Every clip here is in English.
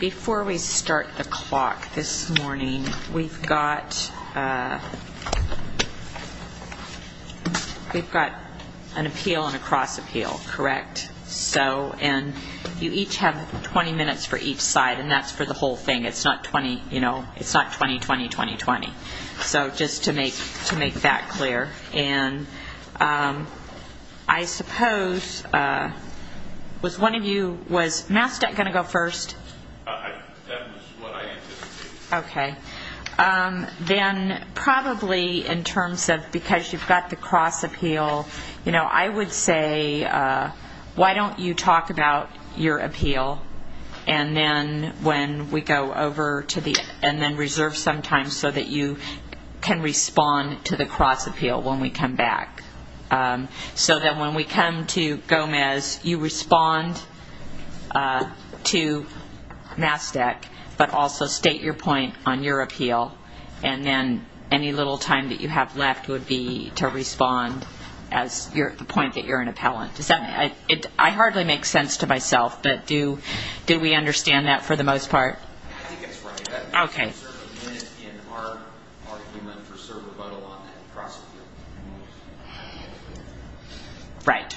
Before we start the clock this morning, we've got an appeal and a cross-appeal, correct? And you each have 20 minutes for each side, and that's for the whole thing. It's not 20-20-20-20. So just to make that clear. And I suppose, was one of you, was MasTec going to go first? That was what I intended to do. Okay. Then probably in terms of, because you've got the cross-appeal, I would say why don't you talk about your appeal, and then when we go over to the end, and then reserve some time so that you can respond to the cross-appeal when we come back. So that when we come to Gomez, you respond to MasTec, but also state your point on your appeal, and then any little time that you have left would be to respond at the point that you're an appellant. I hardly make sense to myself, but do we understand that for the most part? I think that's right. Okay. We reserve a minute in our argument to serve rebuttal on that cross-appeal. Right.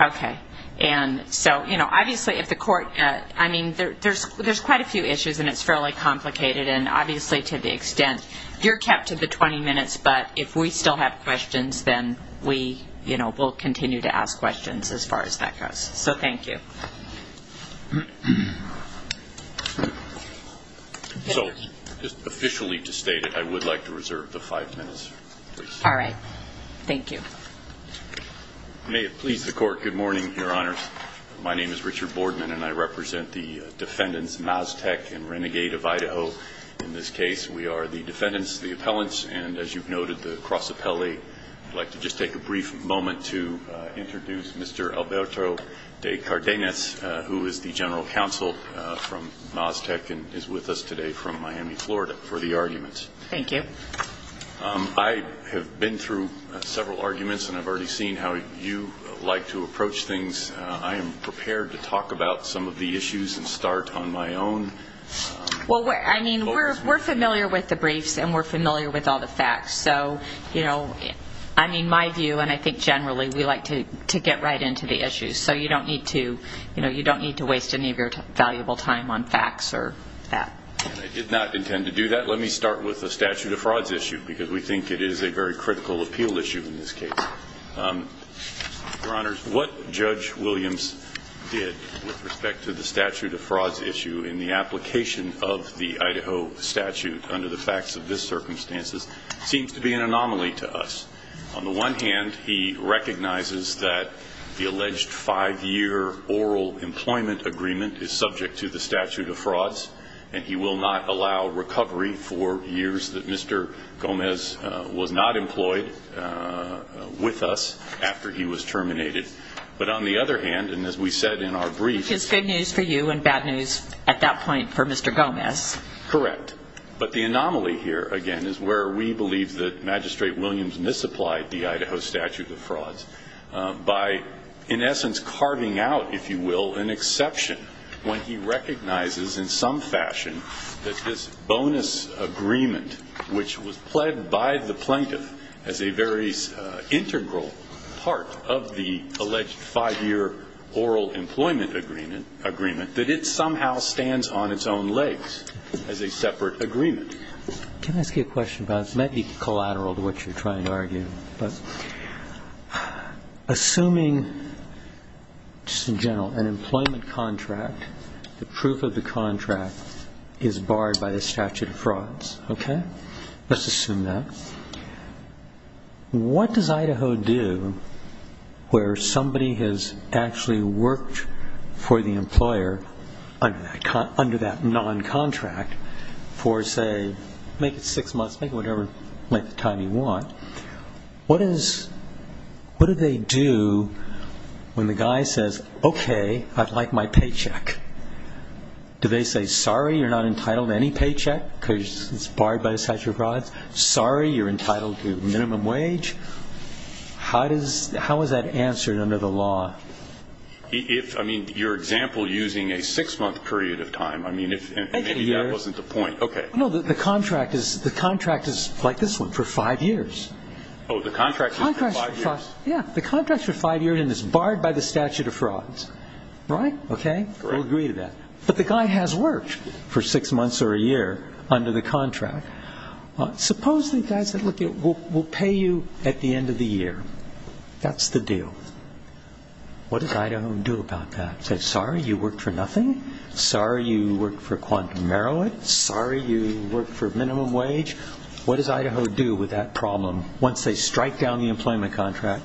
Okay. And so, you know, obviously if the court, I mean, there's quite a few issues, and it's fairly complicated, and obviously to the extent, you're kept to the 20 minutes, but if we still have questions, then we, you know, we'll continue to ask questions as far as that goes. So thank you. So just officially to state it, I would like to reserve the five minutes, please. All right. Thank you. May it please the Court, good morning, Your Honors. My name is Richard Boardman, and I represent the defendants MasTec and Renegade of Idaho. In this case, we are the defendants, the appellants, and as you've noted, the cross-appellee. I'd like to just take a brief moment to introduce Mr. Alberto de Cardenas, who is the general counsel from MasTec and is with us today from Miami, Florida, for the arguments. Thank you. I have been through several arguments, and I've already seen how you like to approach things. I am prepared to talk about some of the issues and start on my own. Well, I mean, we're familiar with the briefs, and we're familiar with all the facts. So, you know, I mean, my view, and I think generally, we like to get right into the issues. So you don't need to waste any of your valuable time on facts or that. I did not intend to do that. Let me start with the statute of frauds issue because we think it is a very critical appeal issue in this case. Your Honors, what Judge Williams did with respect to the statute of frauds issue in the application of the Idaho statute under the facts of this circumstances seems to be an anomaly to us. On the one hand, he recognizes that the alleged five-year oral employment agreement is subject to the statute of frauds, and he will not allow recovery for years that Mr. Gomez was not employed with us after he was terminated. But on the other hand, and as we said in our briefs- Which is good news for you and bad news at that point for Mr. Gomez. Correct. But the anomaly here, again, is where we believe that Magistrate Williams misapplied the Idaho statute of frauds by, in essence, carving out, if you will, an exception when he recognizes in some fashion that this bonus agreement, which was pled by the plaintiff as a very integral part of the alleged five-year oral employment agreement, that it somehow stands on its own legs as a separate agreement. Can I ask you a question about this? It might be collateral to what you're trying to argue, but assuming, just in general, an employment contract, the proof of the contract is barred by the statute of frauds, okay? Let's assume that. What does Idaho do where somebody has actually worked for the employer under that noncontract for, say, make it six months, make it whatever length of time you want. What do they do when the guy says, okay, I'd like my paycheck? Do they say, sorry, you're not entitled to any paycheck because it's barred by the statute of frauds? Sorry, you're entitled to minimum wage? How is that answered under the law? I mean, your example using a six-month period of time, I mean, maybe that wasn't the point. No, the contract is like this one, for five years. Oh, the contract is for five years? Yeah, the contract's for five years and it's barred by the statute of frauds, right? Okay, we'll agree to that. But the guy has worked for six months or a year under the contract. Suppose the guy said, look, we'll pay you at the end of the year. That's the deal. What does Idaho do about that? Say, sorry, you worked for nothing? Sorry, you worked for Quantum Merrill? Sorry, you worked for minimum wage? What does Idaho do with that problem once they strike down the employment contract?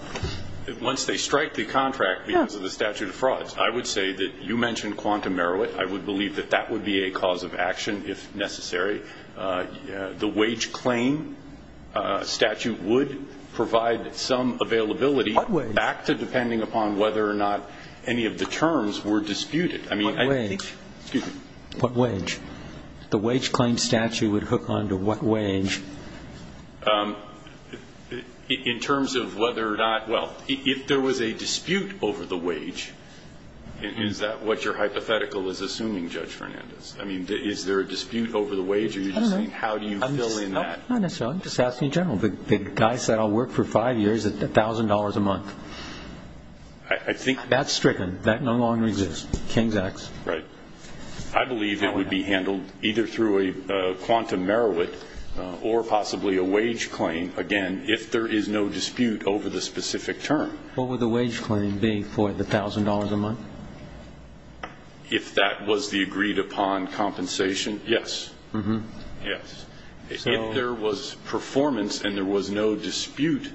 Once they strike the contract because of the statute of frauds, I would say that you mentioned Quantum Merrill. I would believe that that would be a cause of action if necessary. The wage claim statute would provide some availability. What wage? Back to depending upon whether or not any of the terms were disputed. What wage? Excuse me? What wage? The wage claim statute would hook onto what wage? In terms of whether or not, well, if there was a dispute over the wage, is that what your hypothetical is assuming, Judge Fernandez? I mean, is there a dispute over the wage or are you just saying how do you fill in that? No, not necessarily. I'm just asking in general. The guy said I'll work for five years at $1,000 a month. That's stricken. That no longer exists. Right. I believe it would be handled either through a Quantum Merrill or possibly a wage claim, again, if there is no dispute over the specific term. What would the wage claim be for the $1,000 a month? If that was the agreed upon compensation, yes. Yes. If there was performance and there was no dispute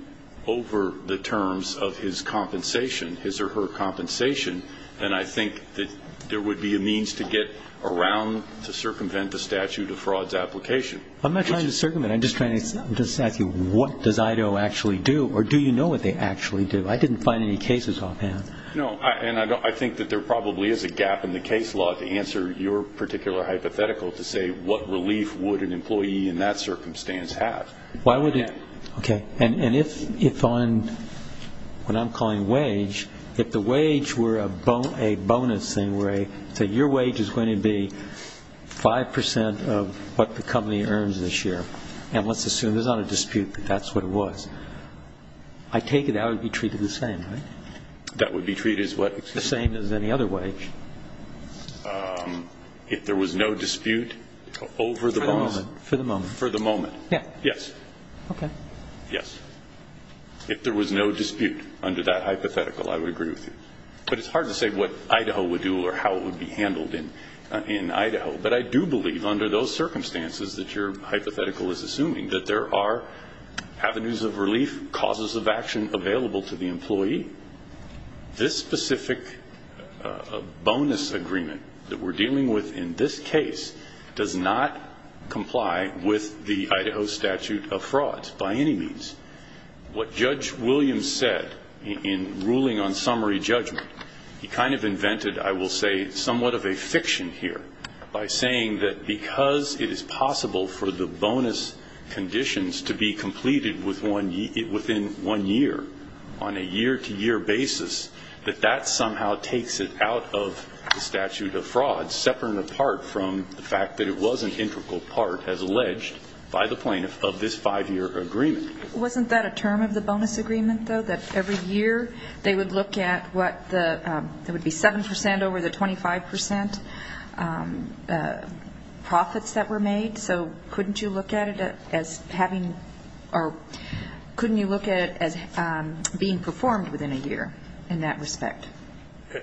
over the terms of his compensation, his or her compensation, then I think that there would be a means to get around to circumvent the statute of frauds application. I'm not trying to circumvent. I'm just asking what does IDO actually do, or do you know what they actually do? I didn't find any cases offhand. No, and I think that there probably is a gap in the case law to answer your particular hypothetical to say what relief would an employee in that circumstance have. Okay, and if on what I'm calling wage, if the wage were a bonus thing, say your wage is going to be 5% of what the company earns this year, and let's assume there's not a dispute that that's what it was, I take it that would be treated the same, right? That would be treated as what? The same as any other wage. If there was no dispute over the bonus? For the moment. Yeah. Yes. Okay. Yes. If there was no dispute under that hypothetical, I would agree with you. But it's hard to say what IDO would do or how it would be handled in IDO, but I do believe under those circumstances that your hypothetical is assuming that there are avenues of relief, causes of action available to the employee. This specific bonus agreement that we're dealing with in this case does not comply with the IDO statute of frauds by any means. What Judge Williams said in ruling on summary judgment, he kind of invented, I will say, somewhat of a fiction here by saying that because it is possible for the bonus conditions to be completed within one year, on a year-to-year basis, that that somehow takes it out of the statute of fraud, separate and apart from the fact that it was an integral part, as alleged, by the plaintiff of this five-year agreement. Wasn't that a term of the bonus agreement, though, that every year they would look at what the – there would be 7% over the 25% profits that were made? So couldn't you look at it as having – or couldn't you look at it as being performed within a year in that respect?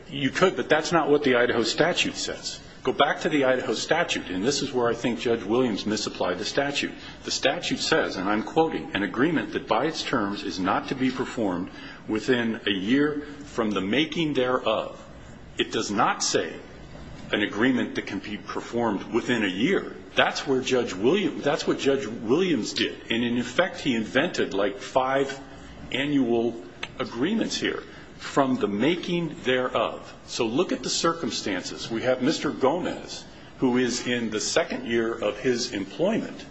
You could, but that's not what the Idaho statute says. Go back to the Idaho statute, and this is where I think Judge Williams misapplied the statute. The statute says, and I'm quoting, an agreement that by its terms is not to be performed within a year from the making thereof. It does not say an agreement that can be performed within a year. That's where Judge Williams – that's what Judge Williams did. And, in effect, he invented like five annual agreements here from the making thereof. So look at the circumstances. We have Mr. Gomez, who is in the second year of his employment,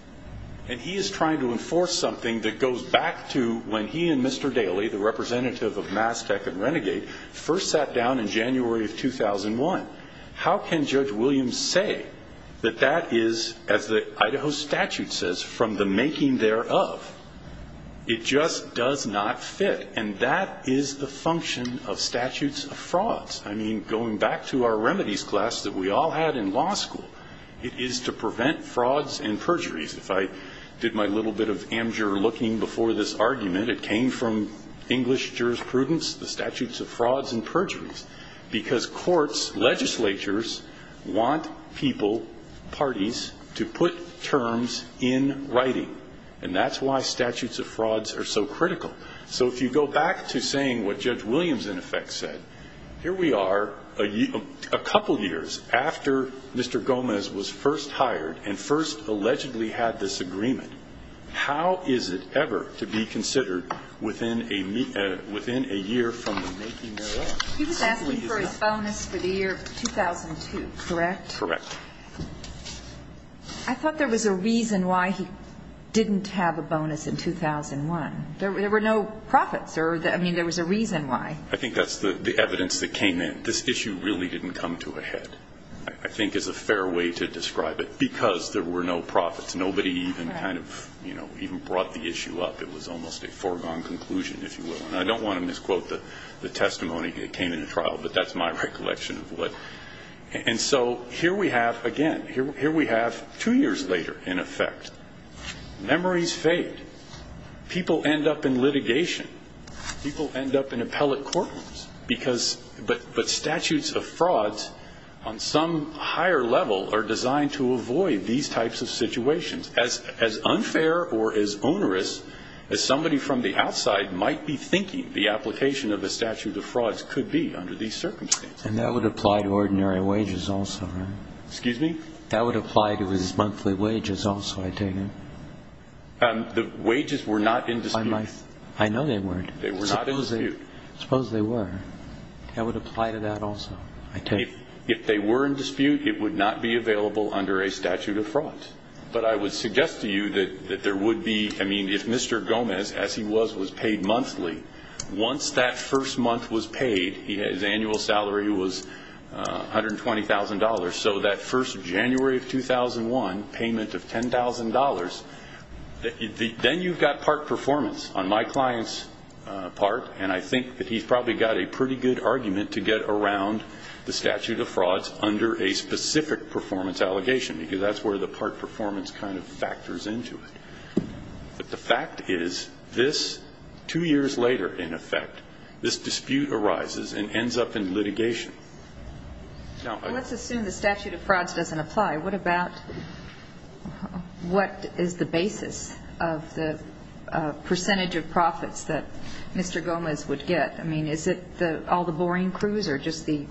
and he is trying to enforce something that goes back to when he and Mr. Daley, the representative of Mass Tech and Renegade, first sat down in January of 2001. How can Judge Williams say that that is, as the Idaho statute says, from the making thereof? It just does not fit. And that is the function of statutes of frauds. I mean, going back to our remedies class that we all had in law school, it is to prevent frauds and perjuries. If I did my little bit of amateur looking before this argument, it came from English jurisprudence, the statutes of frauds and perjuries, because courts, legislatures, want people, parties, to put terms in writing. And that's why statutes of frauds are so critical. So if you go back to saying what Judge Williams, in effect, said, here we are a couple years after Mr. Gomez was first hired and first allegedly had this agreement. How is it ever to be considered within a year from the making thereof? He was asking for his bonus for the year 2002, correct? Correct. I thought there was a reason why he didn't have a bonus in 2001. There were no profits. I mean, there was a reason why. I think that's the evidence that came in. This issue really didn't come to a head, I think is a fair way to describe it, because there were no profits. Nobody even kind of, you know, even brought the issue up. It was almost a foregone conclusion, if you will. And I don't want to misquote the testimony that came in the trial, but that's my recollection of what. And so here we have, again, here we have two years later, in effect, memories fade. People end up in litigation. People end up in appellate courtrooms. But statutes of frauds on some higher level are designed to avoid these types of situations. As unfair or as onerous as somebody from the outside might be thinking, the application of a statute of frauds could be under these circumstances. And that would apply to ordinary wages also, right? Excuse me? That would apply to his monthly wages also, I take it. The wages were not in dispute. I know they weren't. They were not in dispute. I suppose they were. That would apply to that also, I take it. If they were in dispute, it would not be available under a statute of frauds. But I would suggest to you that there would be, I mean, if Mr. Gomez, as he was, was paid monthly, once that first month was paid, his annual salary was $120,000, so that first January of 2001 payment of $10,000, then you've got part performance. On my client's part, and I think that he's probably got a pretty good argument to get around the statute of frauds under a specific performance allegation because that's where the part performance kind of factors into it. But the fact is this, two years later, in effect, this dispute arises and ends up in litigation. Let's assume the statute of frauds doesn't apply. What about what is the basis of the percentage of profits that Mr. Gomez would get? I mean, is it all the boring crews or just the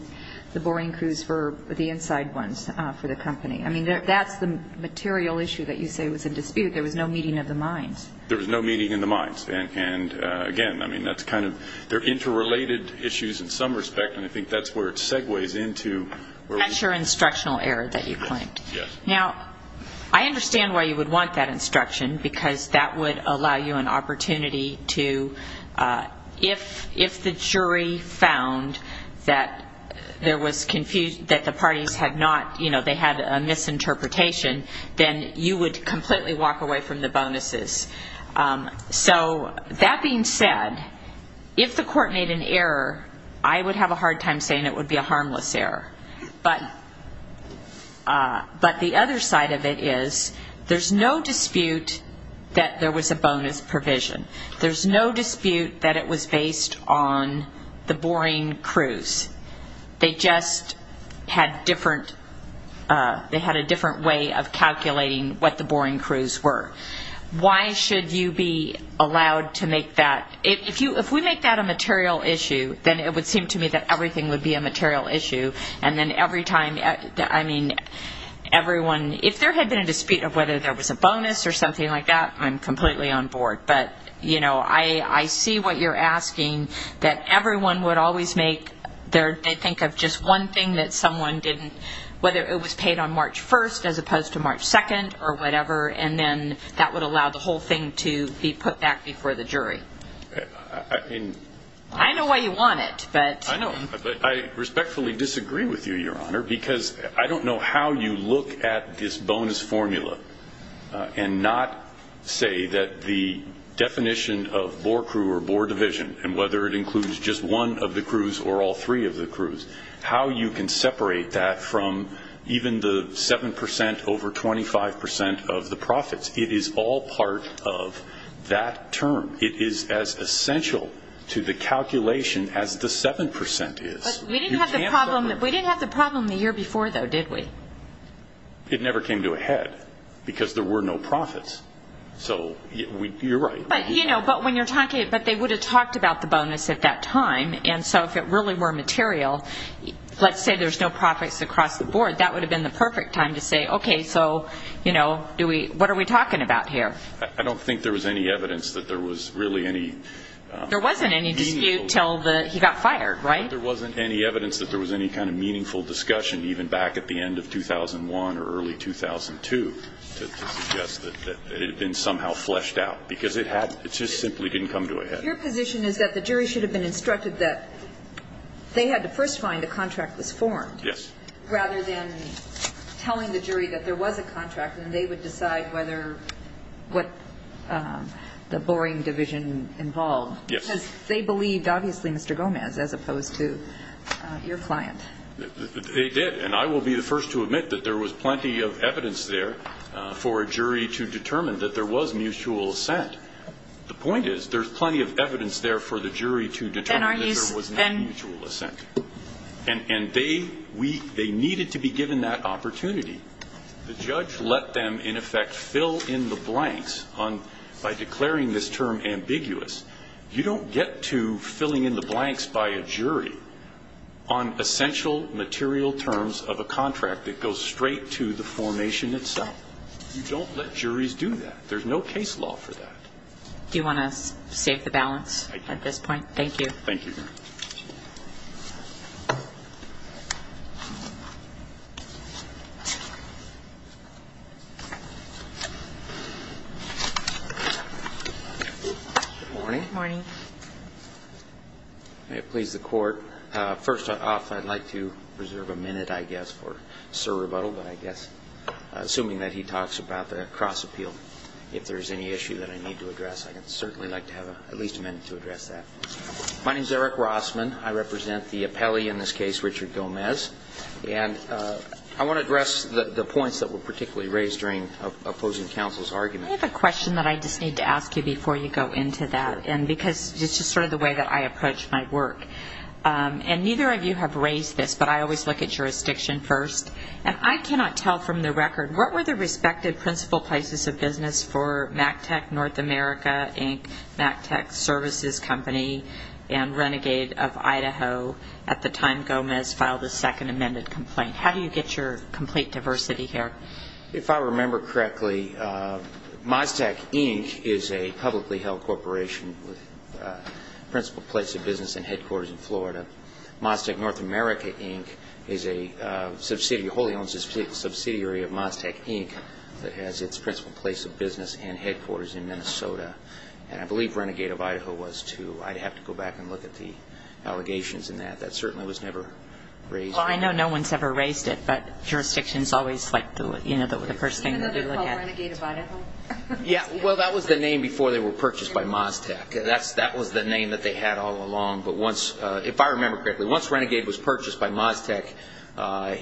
boring crews for the inside ones for the company? I mean, that's the material issue that you say was in dispute. There was no meeting of the minds. There was no meeting of the minds. And, again, I mean, that's kind of they're interrelated issues in some respect, Now, I understand why you would want that instruction, because that would allow you an opportunity to, if the jury found that there was confusion, that the parties had not, you know, they had a misinterpretation, then you would completely walk away from the bonuses. So that being said, if the court made an error, I would have a hard time saying it would be a harmless error. But the other side of it is there's no dispute that there was a bonus provision. There's no dispute that it was based on the boring crews. They just had a different way of calculating what the boring crews were. Why should you be allowed to make that? If we make that a material issue, then it would seem to me that everything would be a material issue. And then every time, I mean, everyone, if there had been a dispute of whether there was a bonus or something like that, I'm completely on board. But, you know, I see what you're asking, that everyone would always make, they think of just one thing that someone didn't, whether it was paid on March 1st as opposed to March 2nd or whatever, and then that would allow the whole thing to be put back before the jury. I know why you want it. I respectfully disagree with you, Your Honor, because I don't know how you look at this bonus formula and not say that the definition of bore crew or bore division, and whether it includes just one of the crews or all three of the crews, how you can separate that from even the 7% over 25% of the profits. It is all part of that term. It is as essential to the calculation as the 7% is. We didn't have the problem the year before, though, did we? It never came to a head because there were no profits. So you're right. But, you know, when you're talking, but they would have talked about the bonus at that time, and so if it really were material, let's say there's no profits across the board, that would have been the perfect time to say, okay, so, you know, what are we talking about here? I don't think there was any evidence that there was really any meaningful discussion. There wasn't any dispute until he got fired, right? There wasn't any evidence that there was any kind of meaningful discussion, even back at the end of 2001 or early 2002, to suggest that it had been somehow fleshed out because it just simply didn't come to a head. Your position is that the jury should have been instructed that they had to first find the contract was formed. Yes. Rather than telling the jury that there was a contract and they would decide whether what the boring division involved. Yes. Because they believed, obviously, Mr. Gomez, as opposed to your client. They did. And I will be the first to admit that there was plenty of evidence there for a jury to determine that there was mutual assent. The point is there's plenty of evidence there for the jury to determine that there was no mutual assent. And they needed to be given that opportunity. The judge let them, in effect, fill in the blanks by declaring this term ambiguous. You don't get to filling in the blanks by a jury on essential material terms of a contract that goes straight to the formation itself. You don't let juries do that. There's no case law for that. Do you want to save the balance at this point? I do. Thank you. Thank you. Good morning. Good morning. May it please the Court. First off, I'd like to reserve a minute, I guess, for Sir Rebuttal. But I guess, assuming that he talks about the cross appeal, if there's any issue that I need to address, I'd certainly like to have at least a minute to address that. My name is Eric Rossman. I represent the appellee in this case, Richard Gomez. And I want to address the points that were particularly raised during opposing counsel's argument. I have a question that I just need to ask you before you go into that. And because this is sort of the way that I approach my work. And neither of you have raised this, but I always look at jurisdiction first. And I cannot tell from the record, what were the respective principal places of business for MAC Tech North America, Inc., MAC Tech Services Company, and Renegade of Idaho at the time Gomez filed the second amended complaint? How do you get your complete diversity here? If I remember correctly, MazTec, Inc. is a publicly held corporation with principal place of business and headquarters in Florida. MazTec North America, Inc. is a wholly owned subsidiary of MazTec, Inc. that has its principal place of business and headquarters in Minnesota. And I believe Renegade of Idaho was, too. I'd have to go back and look at the allegations in that. That certainly was never raised. Well, I know no one's ever raised it, but jurisdiction is always the first thing to look at. Even though they're called Renegade of Idaho? Yeah, well, that was the name before they were purchased by MazTec. That was the name that they had all along. But if I remember correctly, once Renegade was purchased by MazTec,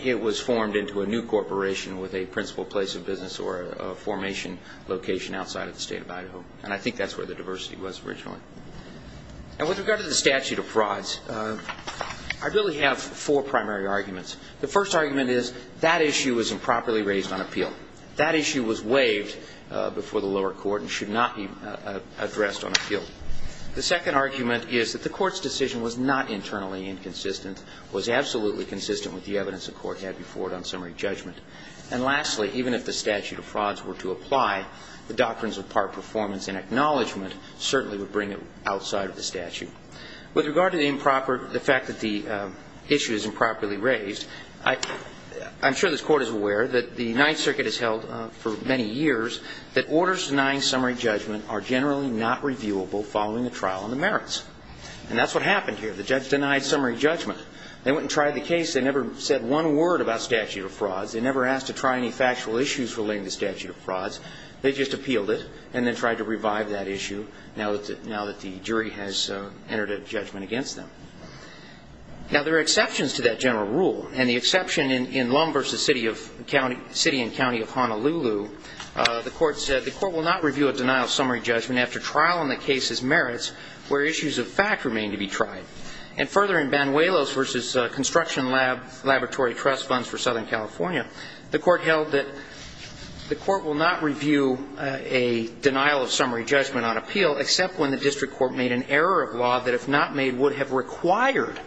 it was formed into a new corporation with a principal place of business or a formation location outside of the state of Idaho. And I think that's where the diversity was originally. And with regard to the statute of frauds, I really have four primary arguments. The first argument is that issue was improperly raised on appeal. That issue was waived before the lower court and should not be addressed on appeal. The second argument is that the court's decision was not internally inconsistent, was absolutely consistent with the evidence the court had before it on summary judgment. And lastly, even if the statute of frauds were to apply, the doctrines of part performance and acknowledgment certainly would bring it outside of the statute. With regard to the fact that the issue is improperly raised, I'm sure this Court is aware that the Ninth Circuit has held for many years that orders denying summary judgment are generally not reviewable following the trial on the merits. And that's what happened here. The judge denied summary judgment. They went and tried the case. They never said one word about statute of frauds. They never asked to try any factual issues relating to statute of frauds. They just appealed it and then tried to revive that issue now that the jury has entered a judgment against them. Now, there are exceptions to that general rule, and the exception in Lum versus City and County of Honolulu, the court said, where issues of fact remain to be tried. And further, in Banuelos versus Construction Laboratory Trust Funds for Southern California, the court held that the court will not review a denial of summary judgment on appeal except when the district court made an error of law that, if not made, would have required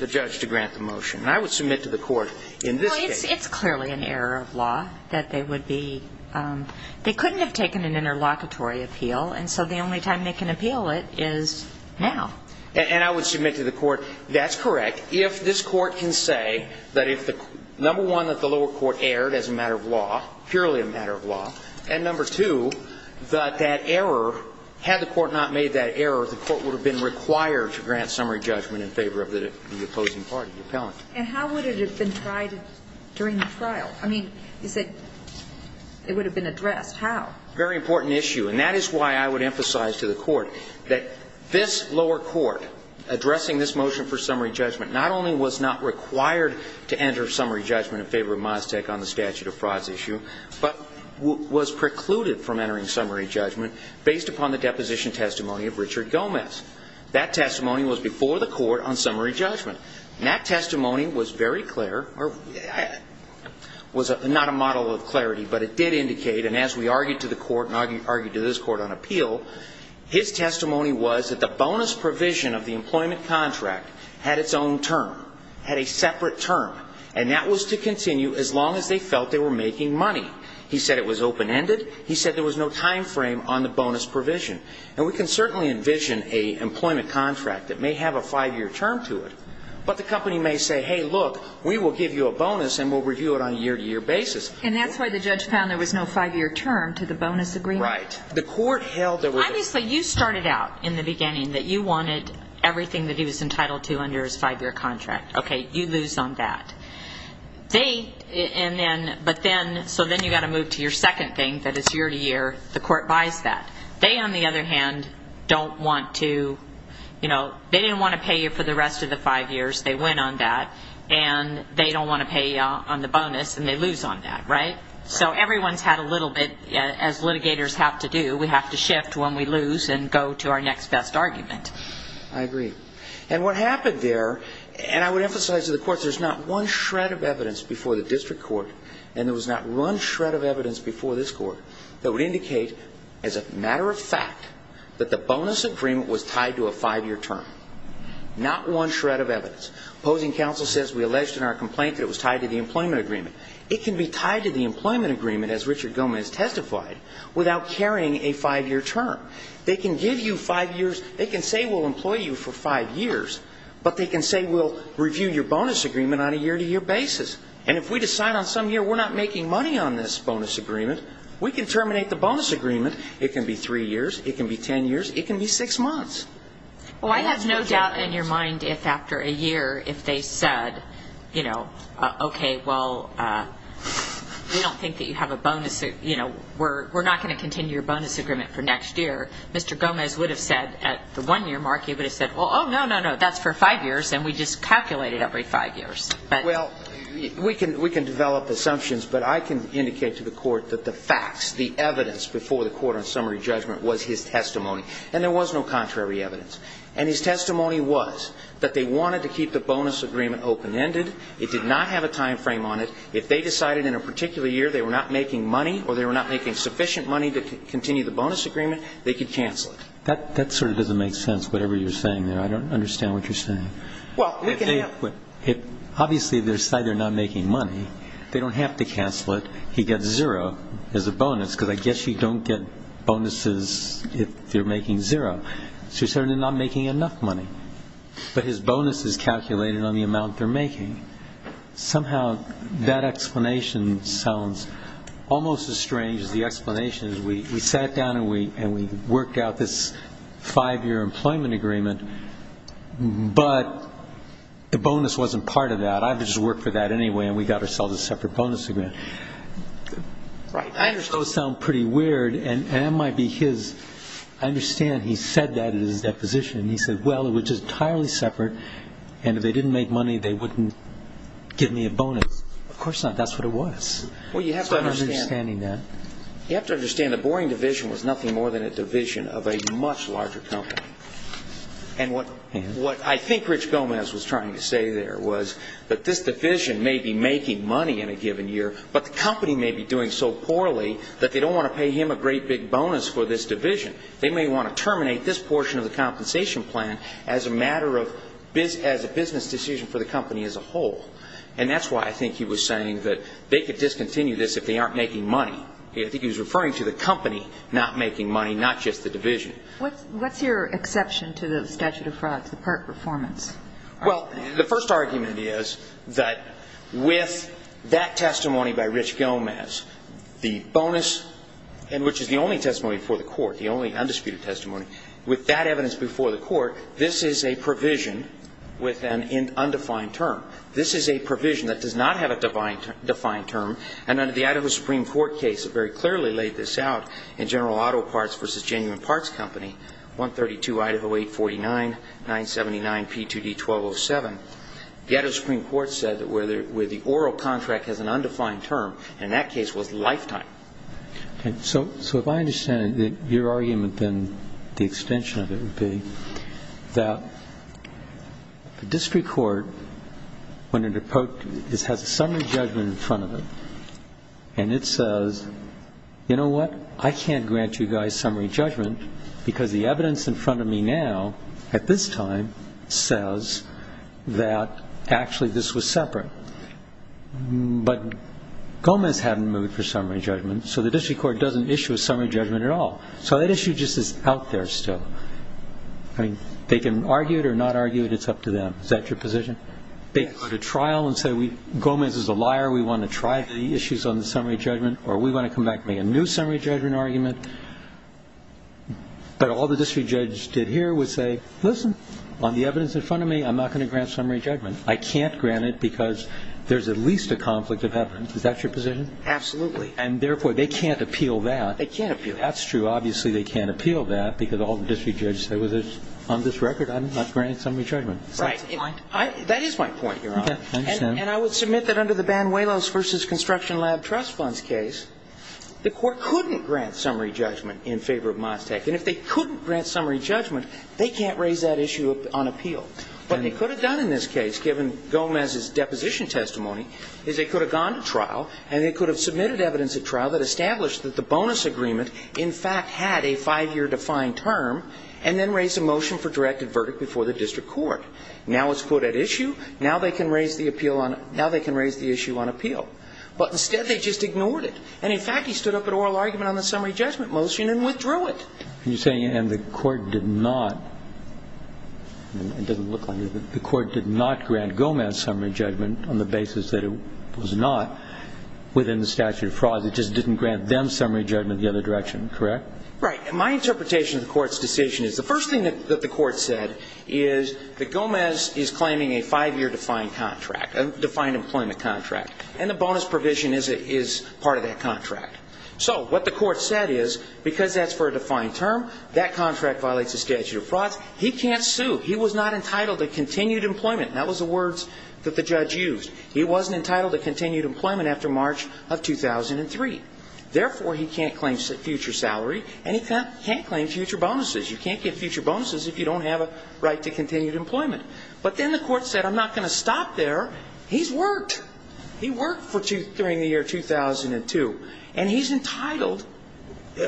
the judge to grant the motion. And I would submit to the court in this case. Well, it's clearly an error of law that they would be ‑‑ they couldn't have taken an interlocutory appeal, and so the only time they can appeal it is now. And I would submit to the court, that's correct. If this court can say that if the ‑‑ number one, that the lower court erred as a matter of law, purely a matter of law, and number two, that that error, had the court not made that error, the court would have been required to grant summary judgment in favor of the opposing party, the appellant. And how would it have been tried during the trial? I mean, you said it would have been addressed. How? Very important issue. And that is why I would emphasize to the court that this lower court, addressing this motion for summary judgment, not only was not required to enter summary judgment in favor of Maztec on the statute of frauds issue, but was precluded from entering summary judgment based upon the deposition testimony of Richard Gomez. That testimony was before the court on summary judgment. And that testimony was very clear, or was not a model of clarity, but it did indicate, and as we argued to the court and argued to this court on appeal, his testimony was that the bonus provision of the employment contract had its own term, had a separate term, and that was to continue as long as they felt they were making money. He said it was open‑ended. He said there was no time frame on the bonus provision. And we can certainly envision a employment contract that may have a five‑year term to it, but the company may say, hey, look, we will give you a bonus and we'll review it on a year‑to‑year basis. And that's why the judge found there was no five‑year term to the bonus agreement. Right. The court held there was a ‑‑ Obviously, you started out in the beginning that you wanted everything that he was entitled to under his five‑year contract. Okay, you lose on that. They, and then, but then, so then you've got to move to your second thing, that it's year‑to‑year, the court buys that. They, on the other hand, don't want to, you know, they didn't want to pay you for the rest of the five years, they win on that, and they don't want to pay you on the bonus, and they lose on that, right? So everyone's had a little bit, as litigators have to do, we have to shift when we lose and go to our next best argument. I agree. And what happened there, and I would emphasize to the court, there's not one shred of evidence before the district court, and there was not one shred of evidence before this court, that would indicate as a matter of fact that the bonus agreement was tied to a five‑year term. Not one shred of evidence. Opposing counsel says we alleged in our complaint that it was tied to the employment agreement. It can be tied to the employment agreement, as Richard Gomez testified, without carrying a five‑year term. They can give you five years, they can say we'll employ you for five years, but they can say we'll review your bonus agreement on a year‑to‑year basis. And if we decide on some year we're not making money on this bonus agreement, we can terminate the bonus agreement. It can be three years, it can be ten years, it can be six months. Well, I have no doubt in your mind if after a year, if they said, you know, okay, well, we don't think that you have a bonus, you know, we're not going to continue your bonus agreement for next year, Mr. Gomez would have said at the one‑year mark, he would have said, oh, no, no, no, that's for five years, and we just calculated every five years. Well, we can develop assumptions, but I can indicate to the court that the facts, the evidence before the court on summary judgment was his testimony. And there was no contrary evidence. And his testimony was that they wanted to keep the bonus agreement open‑ended. It did not have a time frame on it. If they decided in a particular year they were not making money or they were not making sufficient money to continue the bonus agreement, they could cancel it. That sort of doesn't make sense, whatever you're saying there. I don't understand what you're saying. Well, we can have ‑‑ Obviously, if they decide they're not making money, they don't have to cancel it. He gets zero as a bonus, because I guess you don't get bonuses if you're making zero. So you're saying they're not making enough money, but his bonus is calculated on the amount they're making. Somehow that explanation sounds almost as strange as the explanation as we sat down and we worked out this five‑year employment agreement, but the bonus wasn't part of that. I just worked for that anyway, and we got ourselves a separate bonus agreement. Those sound pretty weird, and that might be his ‑‑ I understand he said that at his deposition. He said, well, it was just entirely separate, and if they didn't make money, they wouldn't give me a bonus. Of course not. That's what it was. I'm understanding that. You have to understand the Boring Division was nothing more than a division of a much larger company. And what I think Rich Gomez was trying to say there was that this division may be making money in a given year, but the company may be doing so poorly that they don't want to pay him a great big bonus for this division. They may want to terminate this portion of the compensation plan as a business decision for the company as a whole. And that's why I think he was saying that they could discontinue this if they aren't making money. I think he was referring to the company not making money, not just the division. What's your exception to the statute of frauds, the PERT performance? Well, the first argument is that with that testimony by Rich Gomez, the bonus, which is the only testimony before the court, the only undisputed testimony, with that evidence before the court, this is a provision with an undefined term. This is a provision that does not have a defined term. And under the Idaho Supreme Court case, it very clearly laid this out in General Auto Parts v. Genuine Parts Company, 132 Idaho 849-979-P2D-1207. The Idaho Supreme Court said that where the oral contract has an undefined term, and that case was lifetime. So if I understand it, your argument then, the extension of it would be, that the district court, when it approached, has a summary judgment in front of it, and it says, you know what? I can't grant you guys summary judgment because the evidence in front of me now, at this time, says that actually this was separate. But Gomez hadn't moved for summary judgment, so the district court doesn't issue a summary judgment at all. So that issue just is out there still. I mean, they can argue it or not argue it. It's up to them. Is that your position? They go to trial and say, Gomez is a liar. We want to try the issues on the summary judgment, or we want to come back and make a new summary judgment argument. But all the district judge did here was say, listen, on the evidence in front of me, I'm not going to grant summary judgment. I can't grant it because there's at least a conflict of evidence. Is that your position? Absolutely. And, therefore, they can't appeal that. They can't appeal that. That's true. Obviously they can't appeal that because all the district judges say, Right. That is my point, Your Honor. And I would submit that under the Banuelos v. Construction Lab Trust Funds case, the court couldn't grant summary judgment in favor of Mostec. And if they couldn't grant summary judgment, they can't raise that issue on appeal. What they could have done in this case, given Gomez's deposition testimony, is they could have gone to trial and they could have submitted evidence at trial that established that the bonus agreement, in fact, had a five-year defined term and then raised a motion for directed verdict before the district court. Now it's put at issue. Now they can raise the issue on appeal. But, instead, they just ignored it. And, in fact, he stood up an oral argument on the summary judgment motion and withdrew it. You're saying the court did not. It doesn't look like it. The court did not grant Gomez summary judgment on the basis that it was not within the statute of fraud. It just didn't grant them summary judgment the other direction, correct? Right. And my interpretation of the court's decision is the first thing that the court said is that Gomez is claiming a five-year defined contract, a defined employment contract, and the bonus provision is part of that contract. So what the court said is, because that's for a defined term, that contract violates the statute of fraud. He can't sue. He was not entitled to continued employment. That was the words that the judge used. He wasn't entitled to continued employment after March of 2003. Therefore, he can't claim future salary and he can't claim future bonuses. You can't get future bonuses if you don't have a right to continued employment. But then the court said, I'm not going to stop there. He's worked. He worked during the year 2002. And he's entitled.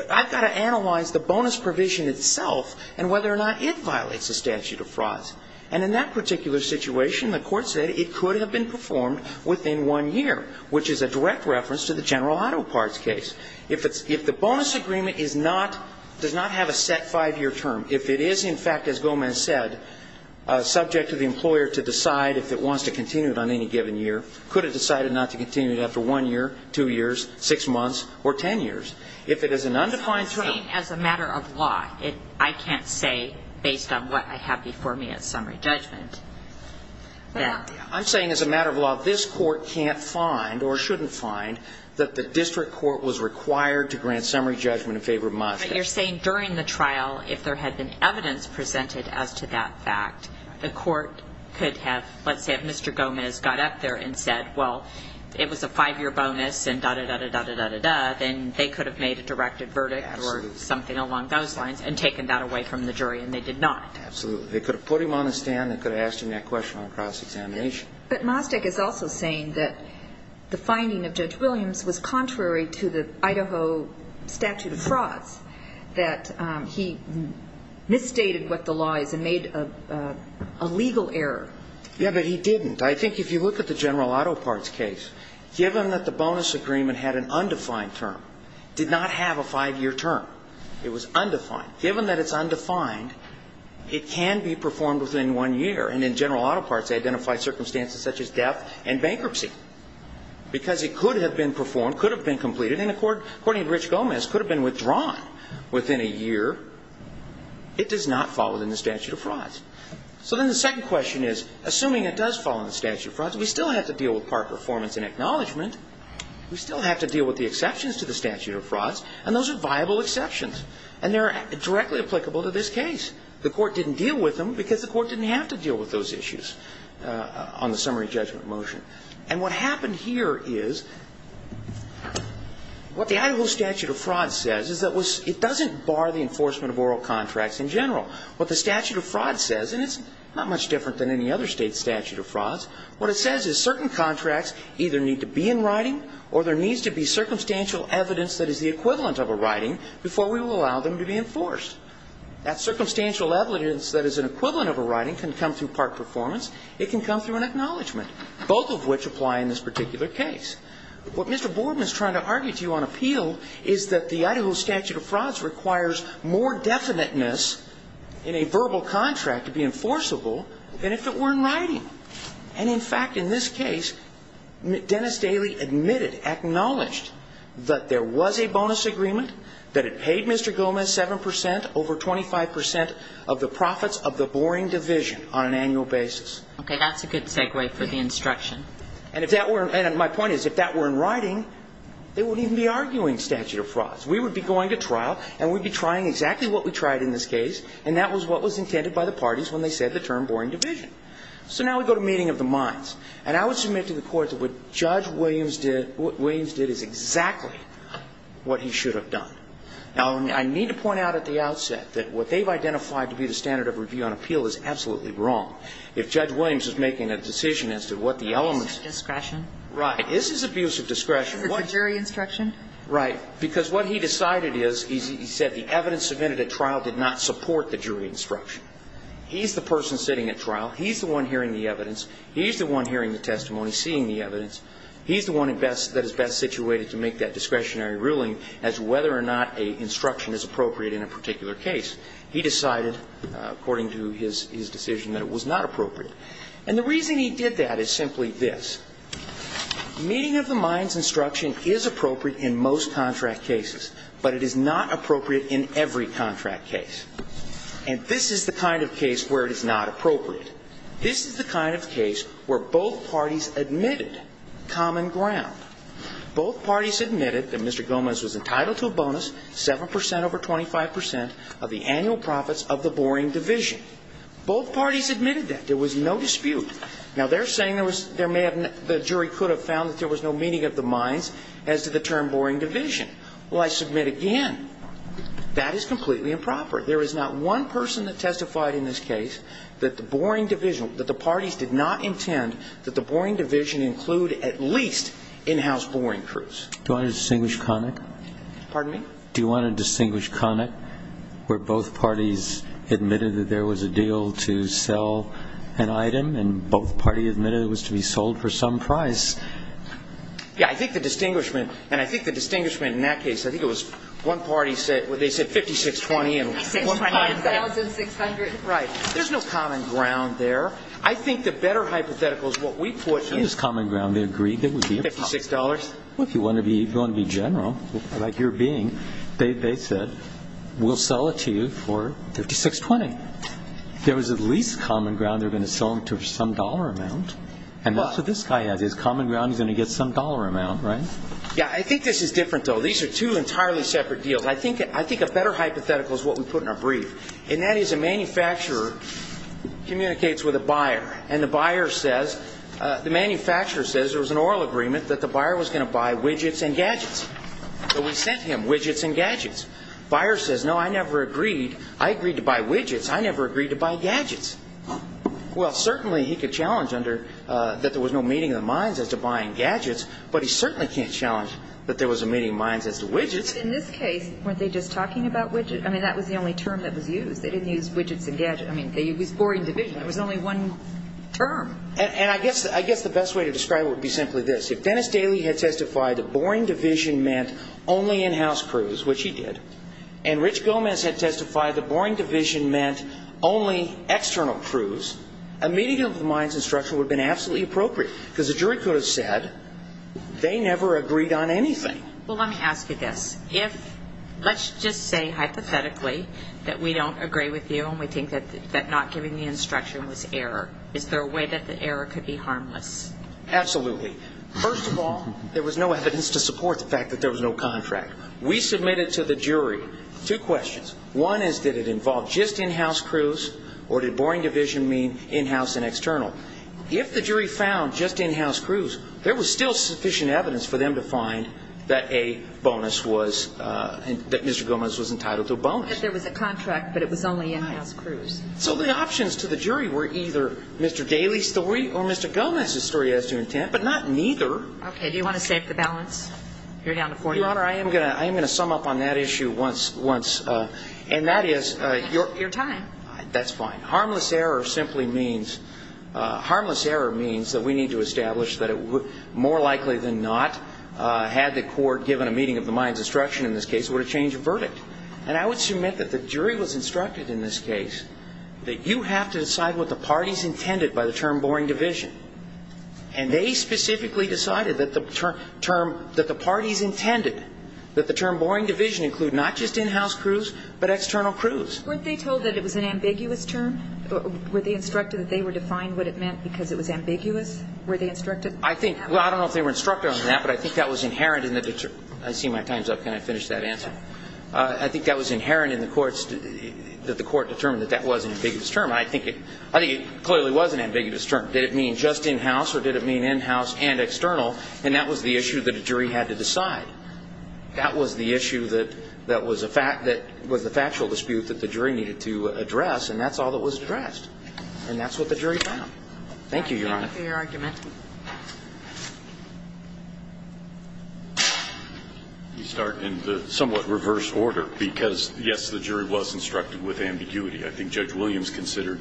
I've got to analyze the bonus provision itself and whether or not it violates the statute of fraud. And in that particular situation, the court said it could have been performed within one year, which is a direct reference to the general auto parts case. If the bonus agreement does not have a set five-year term, if it is, in fact, as Gomez said, subject to the employer to decide if it wants to continue it on any given year, could it decide not to continue it after one year, two years, six months, or ten years? If it is an undefined term. As a matter of law, I can't say based on what I have before me as summary judgment. I'm saying as a matter of law, this court can't find or shouldn't find that the court is required to grant summary judgment in favor of Mostek. But you're saying during the trial, if there had been evidence presented as to that fact, the court could have, let's say, if Mr. Gomez got up there and said, well, it was a five-year bonus and da-da-da-da-da-da-da-da, then they could have made a directed verdict or something along those lines and taken that away from the jury. And they did not. Absolutely. They could have put him on the stand and could have asked him that question on cross-examination. But Mostek is also saying that the finding of Judge Williams was contrary to the Idaho statute of frauds, that he misstated what the law is and made a legal error. Yeah, but he didn't. I think if you look at the General Auto Parts case, given that the bonus agreement had an undefined term, did not have a five-year term, it was undefined. Given that it's undefined, it can be performed within one year. And in General Auto Parts, they identified circumstances such as death and bankruptcy. Because it could have been performed, could have been completed, and according to Rich Gomez, could have been withdrawn within a year. It does not fall within the statute of frauds. So then the second question is, assuming it does fall in the statute of frauds, we still have to deal with park performance and acknowledgment. We still have to deal with the exceptions to the statute of frauds. And those are viable exceptions. And they're directly applicable to this case. The court didn't deal with them because the court didn't have to deal with those issues on the summary judgment motion. And what happened here is what the Idaho statute of frauds says is that it doesn't bar the enforcement of oral contracts in general. What the statute of frauds says, and it's not much different than any other state statute of frauds, what it says is certain contracts either need to be in writing or there needs to be circumstantial evidence that is the equivalent of a writing before we will allow them to be enforced. That circumstantial evidence that is an equivalent of a writing can come through park performance. It can come through an acknowledgment, both of which apply in this particular case. What Mr. Boardman is trying to argue to you on appeal is that the Idaho statute of frauds requires more definiteness in a verbal contract to be enforceable than if it were in writing. And, in fact, in this case, Dennis Daley admitted, acknowledged that there was a over 25 percent of the profits of the boring division on an annual basis. Okay. That's a good segue for the instruction. And if that were, and my point is if that were in writing, they wouldn't even be arguing statute of frauds. We would be going to trial and we'd be trying exactly what we tried in this case, and that was what was intended by the parties when they said the term boring division. So now we go to meeting of the minds. And I would submit to the court that what Judge Williams did is exactly what he should have done. Now, I need to point out at the outset that what they've identified to be the standard of review on appeal is absolutely wrong. If Judge Williams is making a decision as to what the elements. Abuse of discretion. Right. This is abuse of discretion. Is it the jury instruction? Right. Because what he decided is, he said the evidence submitted at trial did not support the jury instruction. He's the person sitting at trial. He's the one hearing the evidence. He's the one hearing the testimony, seeing the evidence. He's the one that is best situated to make that discretionary ruling as whether or not an instruction is appropriate in a particular case. He decided, according to his decision, that it was not appropriate. And the reason he did that is simply this. Meeting of the minds instruction is appropriate in most contract cases, but it is not appropriate in every contract case. And this is the kind of case where it is not appropriate. This is the kind of case where both parties admitted common ground. Both parties admitted that Mr. Gomez was entitled to a bonus, 7% over 25% of the annual profits of the Boring Division. Both parties admitted that. There was no dispute. Now, they're saying there may have been, the jury could have found that there was no meeting of the minds as to the term Boring Division. Well, I submit again, that is completely improper. There is not one person that testified in this case that the Boring Division, that the parties did not intend that the Boring Division include at least in-house Boring Crews. Do you want to distinguish Connick? Pardon me? Do you want to distinguish Connick, where both parties admitted that there was a deal to sell an item, and both parties admitted it was to be sold for some price? Yeah, I think the distinguishment, and I think the distinguishment in that case, I think it was one party said, well, they said 5,620. 5,600. Right. There's no common ground there. I think the better hypothetical is what we put in. It is common ground. They agreed it would be a problem. $56. Well, if you want to be general, like your being, they said, we'll sell it to you for 5,620. There was at least common ground they were going to sell them to some dollar amount, and that's what this guy has. He has common ground he's going to get some dollar amount, right? Yeah, I think this is different, though. These are two entirely separate deals. I think a better hypothetical is what we put in our brief, and that is a manufacturer communicates with a buyer, and the buyer says, the manufacturer says there was an oral agreement that the buyer was going to buy widgets and gadgets. So we sent him widgets and gadgets. Buyer says, no, I never agreed. I agreed to buy widgets. I never agreed to buy gadgets. Well, certainly he could challenge under that there was no meeting of the minds as to buying gadgets, but he certainly can't challenge that there was a meeting of minds as to widgets. But in this case, weren't they just talking about widgets? I mean, that was the only term that was used. They didn't use widgets and gadgets. I mean, it was boring division. There was only one term. And I guess the best way to describe it would be simply this. If Dennis Daly had testified that boring division meant only in-house crews, which he did, and Rich Gomez had testified that boring division meant only external crews, a meeting of the minds and structure would have been absolutely appropriate, because the jury could have said they never agreed on anything. Well, let me ask you this. Let's just say hypothetically that we don't agree with you and we think that not giving the instruction was error. Is there a way that the error could be harmless? Absolutely. First of all, there was no evidence to support the fact that there was no contract. We submitted to the jury two questions. One is, did it involve just in-house crews, or did boring division mean in-house and external? If the jury found just in-house crews, there was still sufficient evidence for them to find that Mr. Gomez was entitled to a bonus. That there was a contract, but it was only in-house crews. So the options to the jury were either Mr. Daly's story or Mr. Gomez's story as to intent, but not neither. Okay. Do you want to save the balance? You're down to 40. Your Honor, I am going to sum up on that issue once. And that is your time. That's fine. Harmless error simply means, harmless error means that we need to establish that more likely than not, had the court given a meeting of the minds instruction in this case, it would have changed the verdict. And I would submit that the jury was instructed in this case that you have to decide what the parties intended by the term boring division. And they specifically decided that the parties intended that the term boring division include not just in-house crews, but external crews. Weren't they told that it was an ambiguous term? Were they instructed that they were defined what it meant because it was ambiguous? Were they instructed? I think, well, I don't know if they were instructed on that, but I think that was inherent in the, I see my time's up. Can I finish that answer? I think that was inherent in the courts, that the court determined that that was an ambiguous term. And I think it clearly was an ambiguous term. Did it mean just in-house or did it mean in-house and external? And that was the issue that a jury had to decide. That was the issue that was the factual dispute that the jury needed to address, and that's all that was addressed. And that's what the jury found. Thank you, Your Honor. Thank you for your argument. You start in the somewhat reverse order because, yes, the jury was instructed with ambiguity. I think Judge Williams considered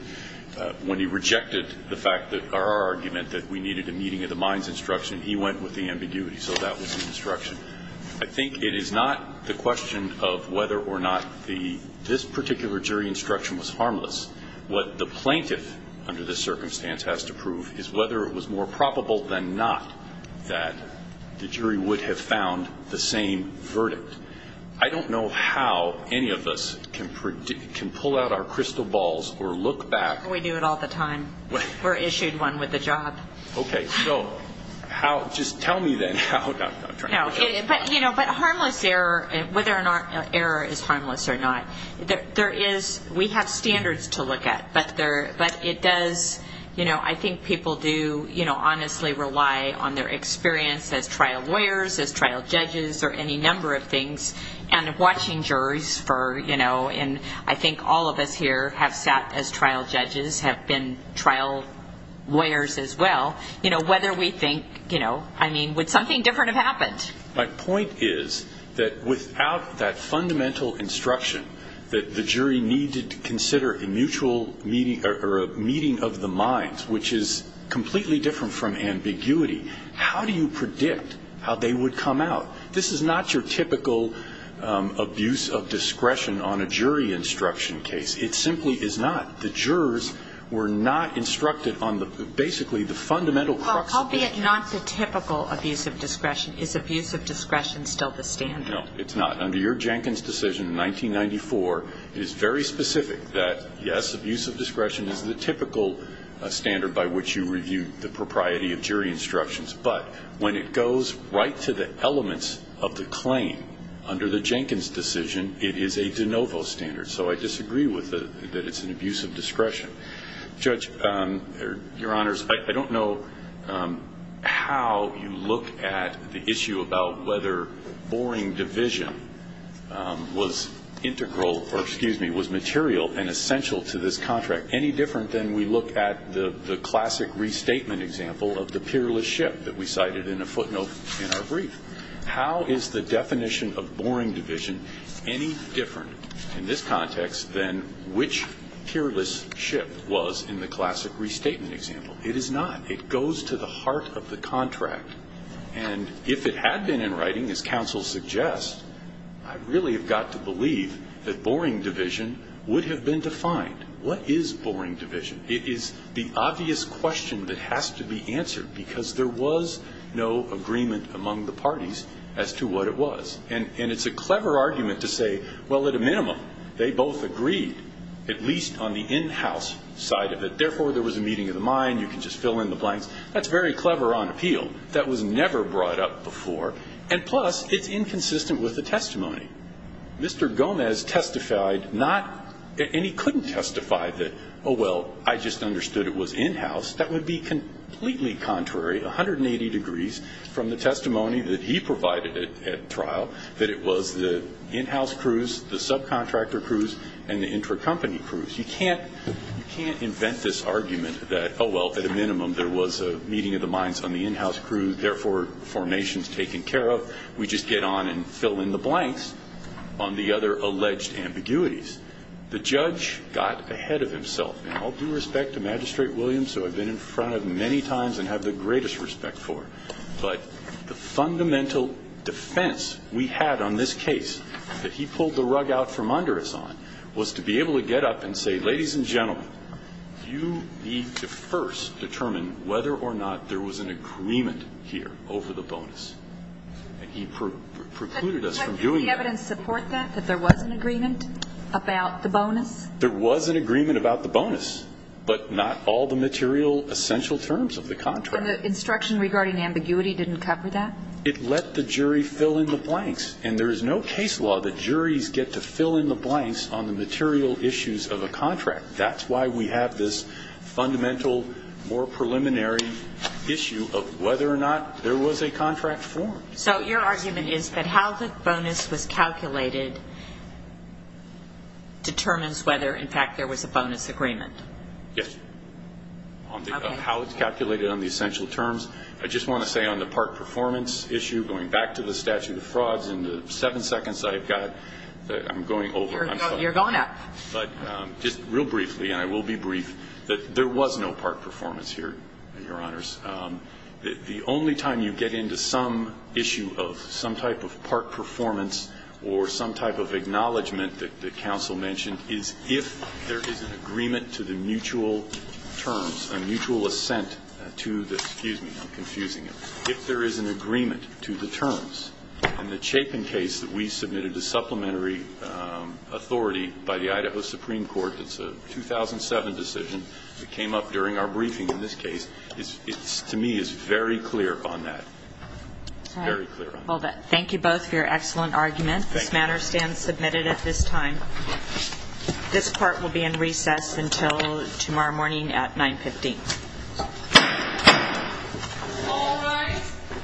when he rejected the fact that our argument that we needed a meeting of the minds instruction, he went with the ambiguity. So that was the instruction. I think it is not the question of whether or not this particular jury instruction was harmless. What the plaintiff under this circumstance has to prove is whether it was more probable than not that the jury would have found the same verdict. I don't know how any of us can pull out our crystal balls or look back. We do it all the time. We're issued one with a job. Okay. So just tell me then how. But harmless error, whether an error is harmless or not, there is we have standards to look at. But it does, you know, I think people do honestly rely on their experience as trial lawyers, as trial judges, or any number of things. And watching juries for, you know, and I think all of us here have sat as trial judges, have been trial lawyers as well. You know, whether we think, you know, I mean, would something different have happened? My point is that without that fundamental instruction that the jury needed to consider a mutual meeting or a meeting of the minds, which is completely different from ambiguity, how do you predict how they would come out? This is not your typical abuse of discretion on a jury instruction case. It simply is not. The jurors were not instructed on basically the fundamental crux of the issue. Well, albeit not the typical abuse of discretion, is abuse of discretion still the standard? No, it's not. Under your Jenkins decision in 1994, it is very specific that, yes, abuse of discretion is the typical standard by which you review the propriety of jury instructions. But when it goes right to the elements of the claim, under the Jenkins decision, it is a de novo standard. So I disagree that it's an abuse of discretion. Judge, Your Honors, I don't know how you look at the issue about whether boring division was integral or, excuse me, was material and essential to this contract, than we look at the classic restatement example of the peerless ship that we cited in a footnote in our brief. How is the definition of boring division any different in this context than which peerless ship was in the classic restatement example? It is not. It goes to the heart of the contract. And if it had been in writing, as counsel suggests, I really have got to believe that boring division would have been defined. What is boring division? It is the obvious question that has to be answered, because there was no agreement among the parties as to what it was. And it's a clever argument to say, well, at a minimum, they both agreed, at least on the in-house side of it. Therefore, there was a meeting of the mind. You can just fill in the blanks. That's very clever on appeal. That was never brought up before. And, plus, it's inconsistent with the testimony. Mr. Gomez testified not – and he couldn't testify that, oh, well, I just understood it was in-house. That would be completely contrary, 180 degrees, from the testimony that he provided at trial, that it was the in-house crews, the subcontractor crews, and the intercompany crews. You can't invent this argument that, oh, well, at a minimum, there was a meeting of the minds on the in-house crew, and, therefore, formations taken care of. We just get on and fill in the blanks on the other alleged ambiguities. The judge got ahead of himself. And I'll do respect to Magistrate Williams, who I've been in front of many times and have the greatest respect for, but the fundamental defense we had on this case that he pulled the rug out from under us on was to be able to get up and say, ladies and gentlemen, you need to first determine whether or not there was an agreement here over the bonus. And he precluded us from doing that. Did the evidence support that, that there was an agreement about the bonus? There was an agreement about the bonus, but not all the material essential terms of the contract. And the instruction regarding ambiguity didn't cover that? It let the jury fill in the blanks. And there is no case law that juries get to fill in the blanks on the material issues of a contract. That's why we have this fundamental, more preliminary issue of whether or not there was a contract formed. So your argument is that how the bonus was calculated determines whether, in fact, there was a bonus agreement? Yes. How it's calculated on the essential terms. I just want to say on the part performance issue, going back to the statute of frauds and the seven seconds I've got, I'm going over. You're going up. But just real briefly, and I will be brief, that there was no part performance here, Your Honors. The only time you get into some issue of some type of part performance or some type of acknowledgment that counsel mentioned is if there is an agreement to the mutual terms, a mutual assent to the, excuse me, I'm confusing it, if there is an agreement to the terms. And the Chapin case that we submitted to supplementary authority by the Idaho Supreme Court, it's a 2007 decision that came up during our briefing in this case. It, to me, is very clear on that. Very clear on that. Thank you both for your excellent argument. This matter stands submitted at this time. This part will be in recess until tomorrow morning at 9.15. All rise.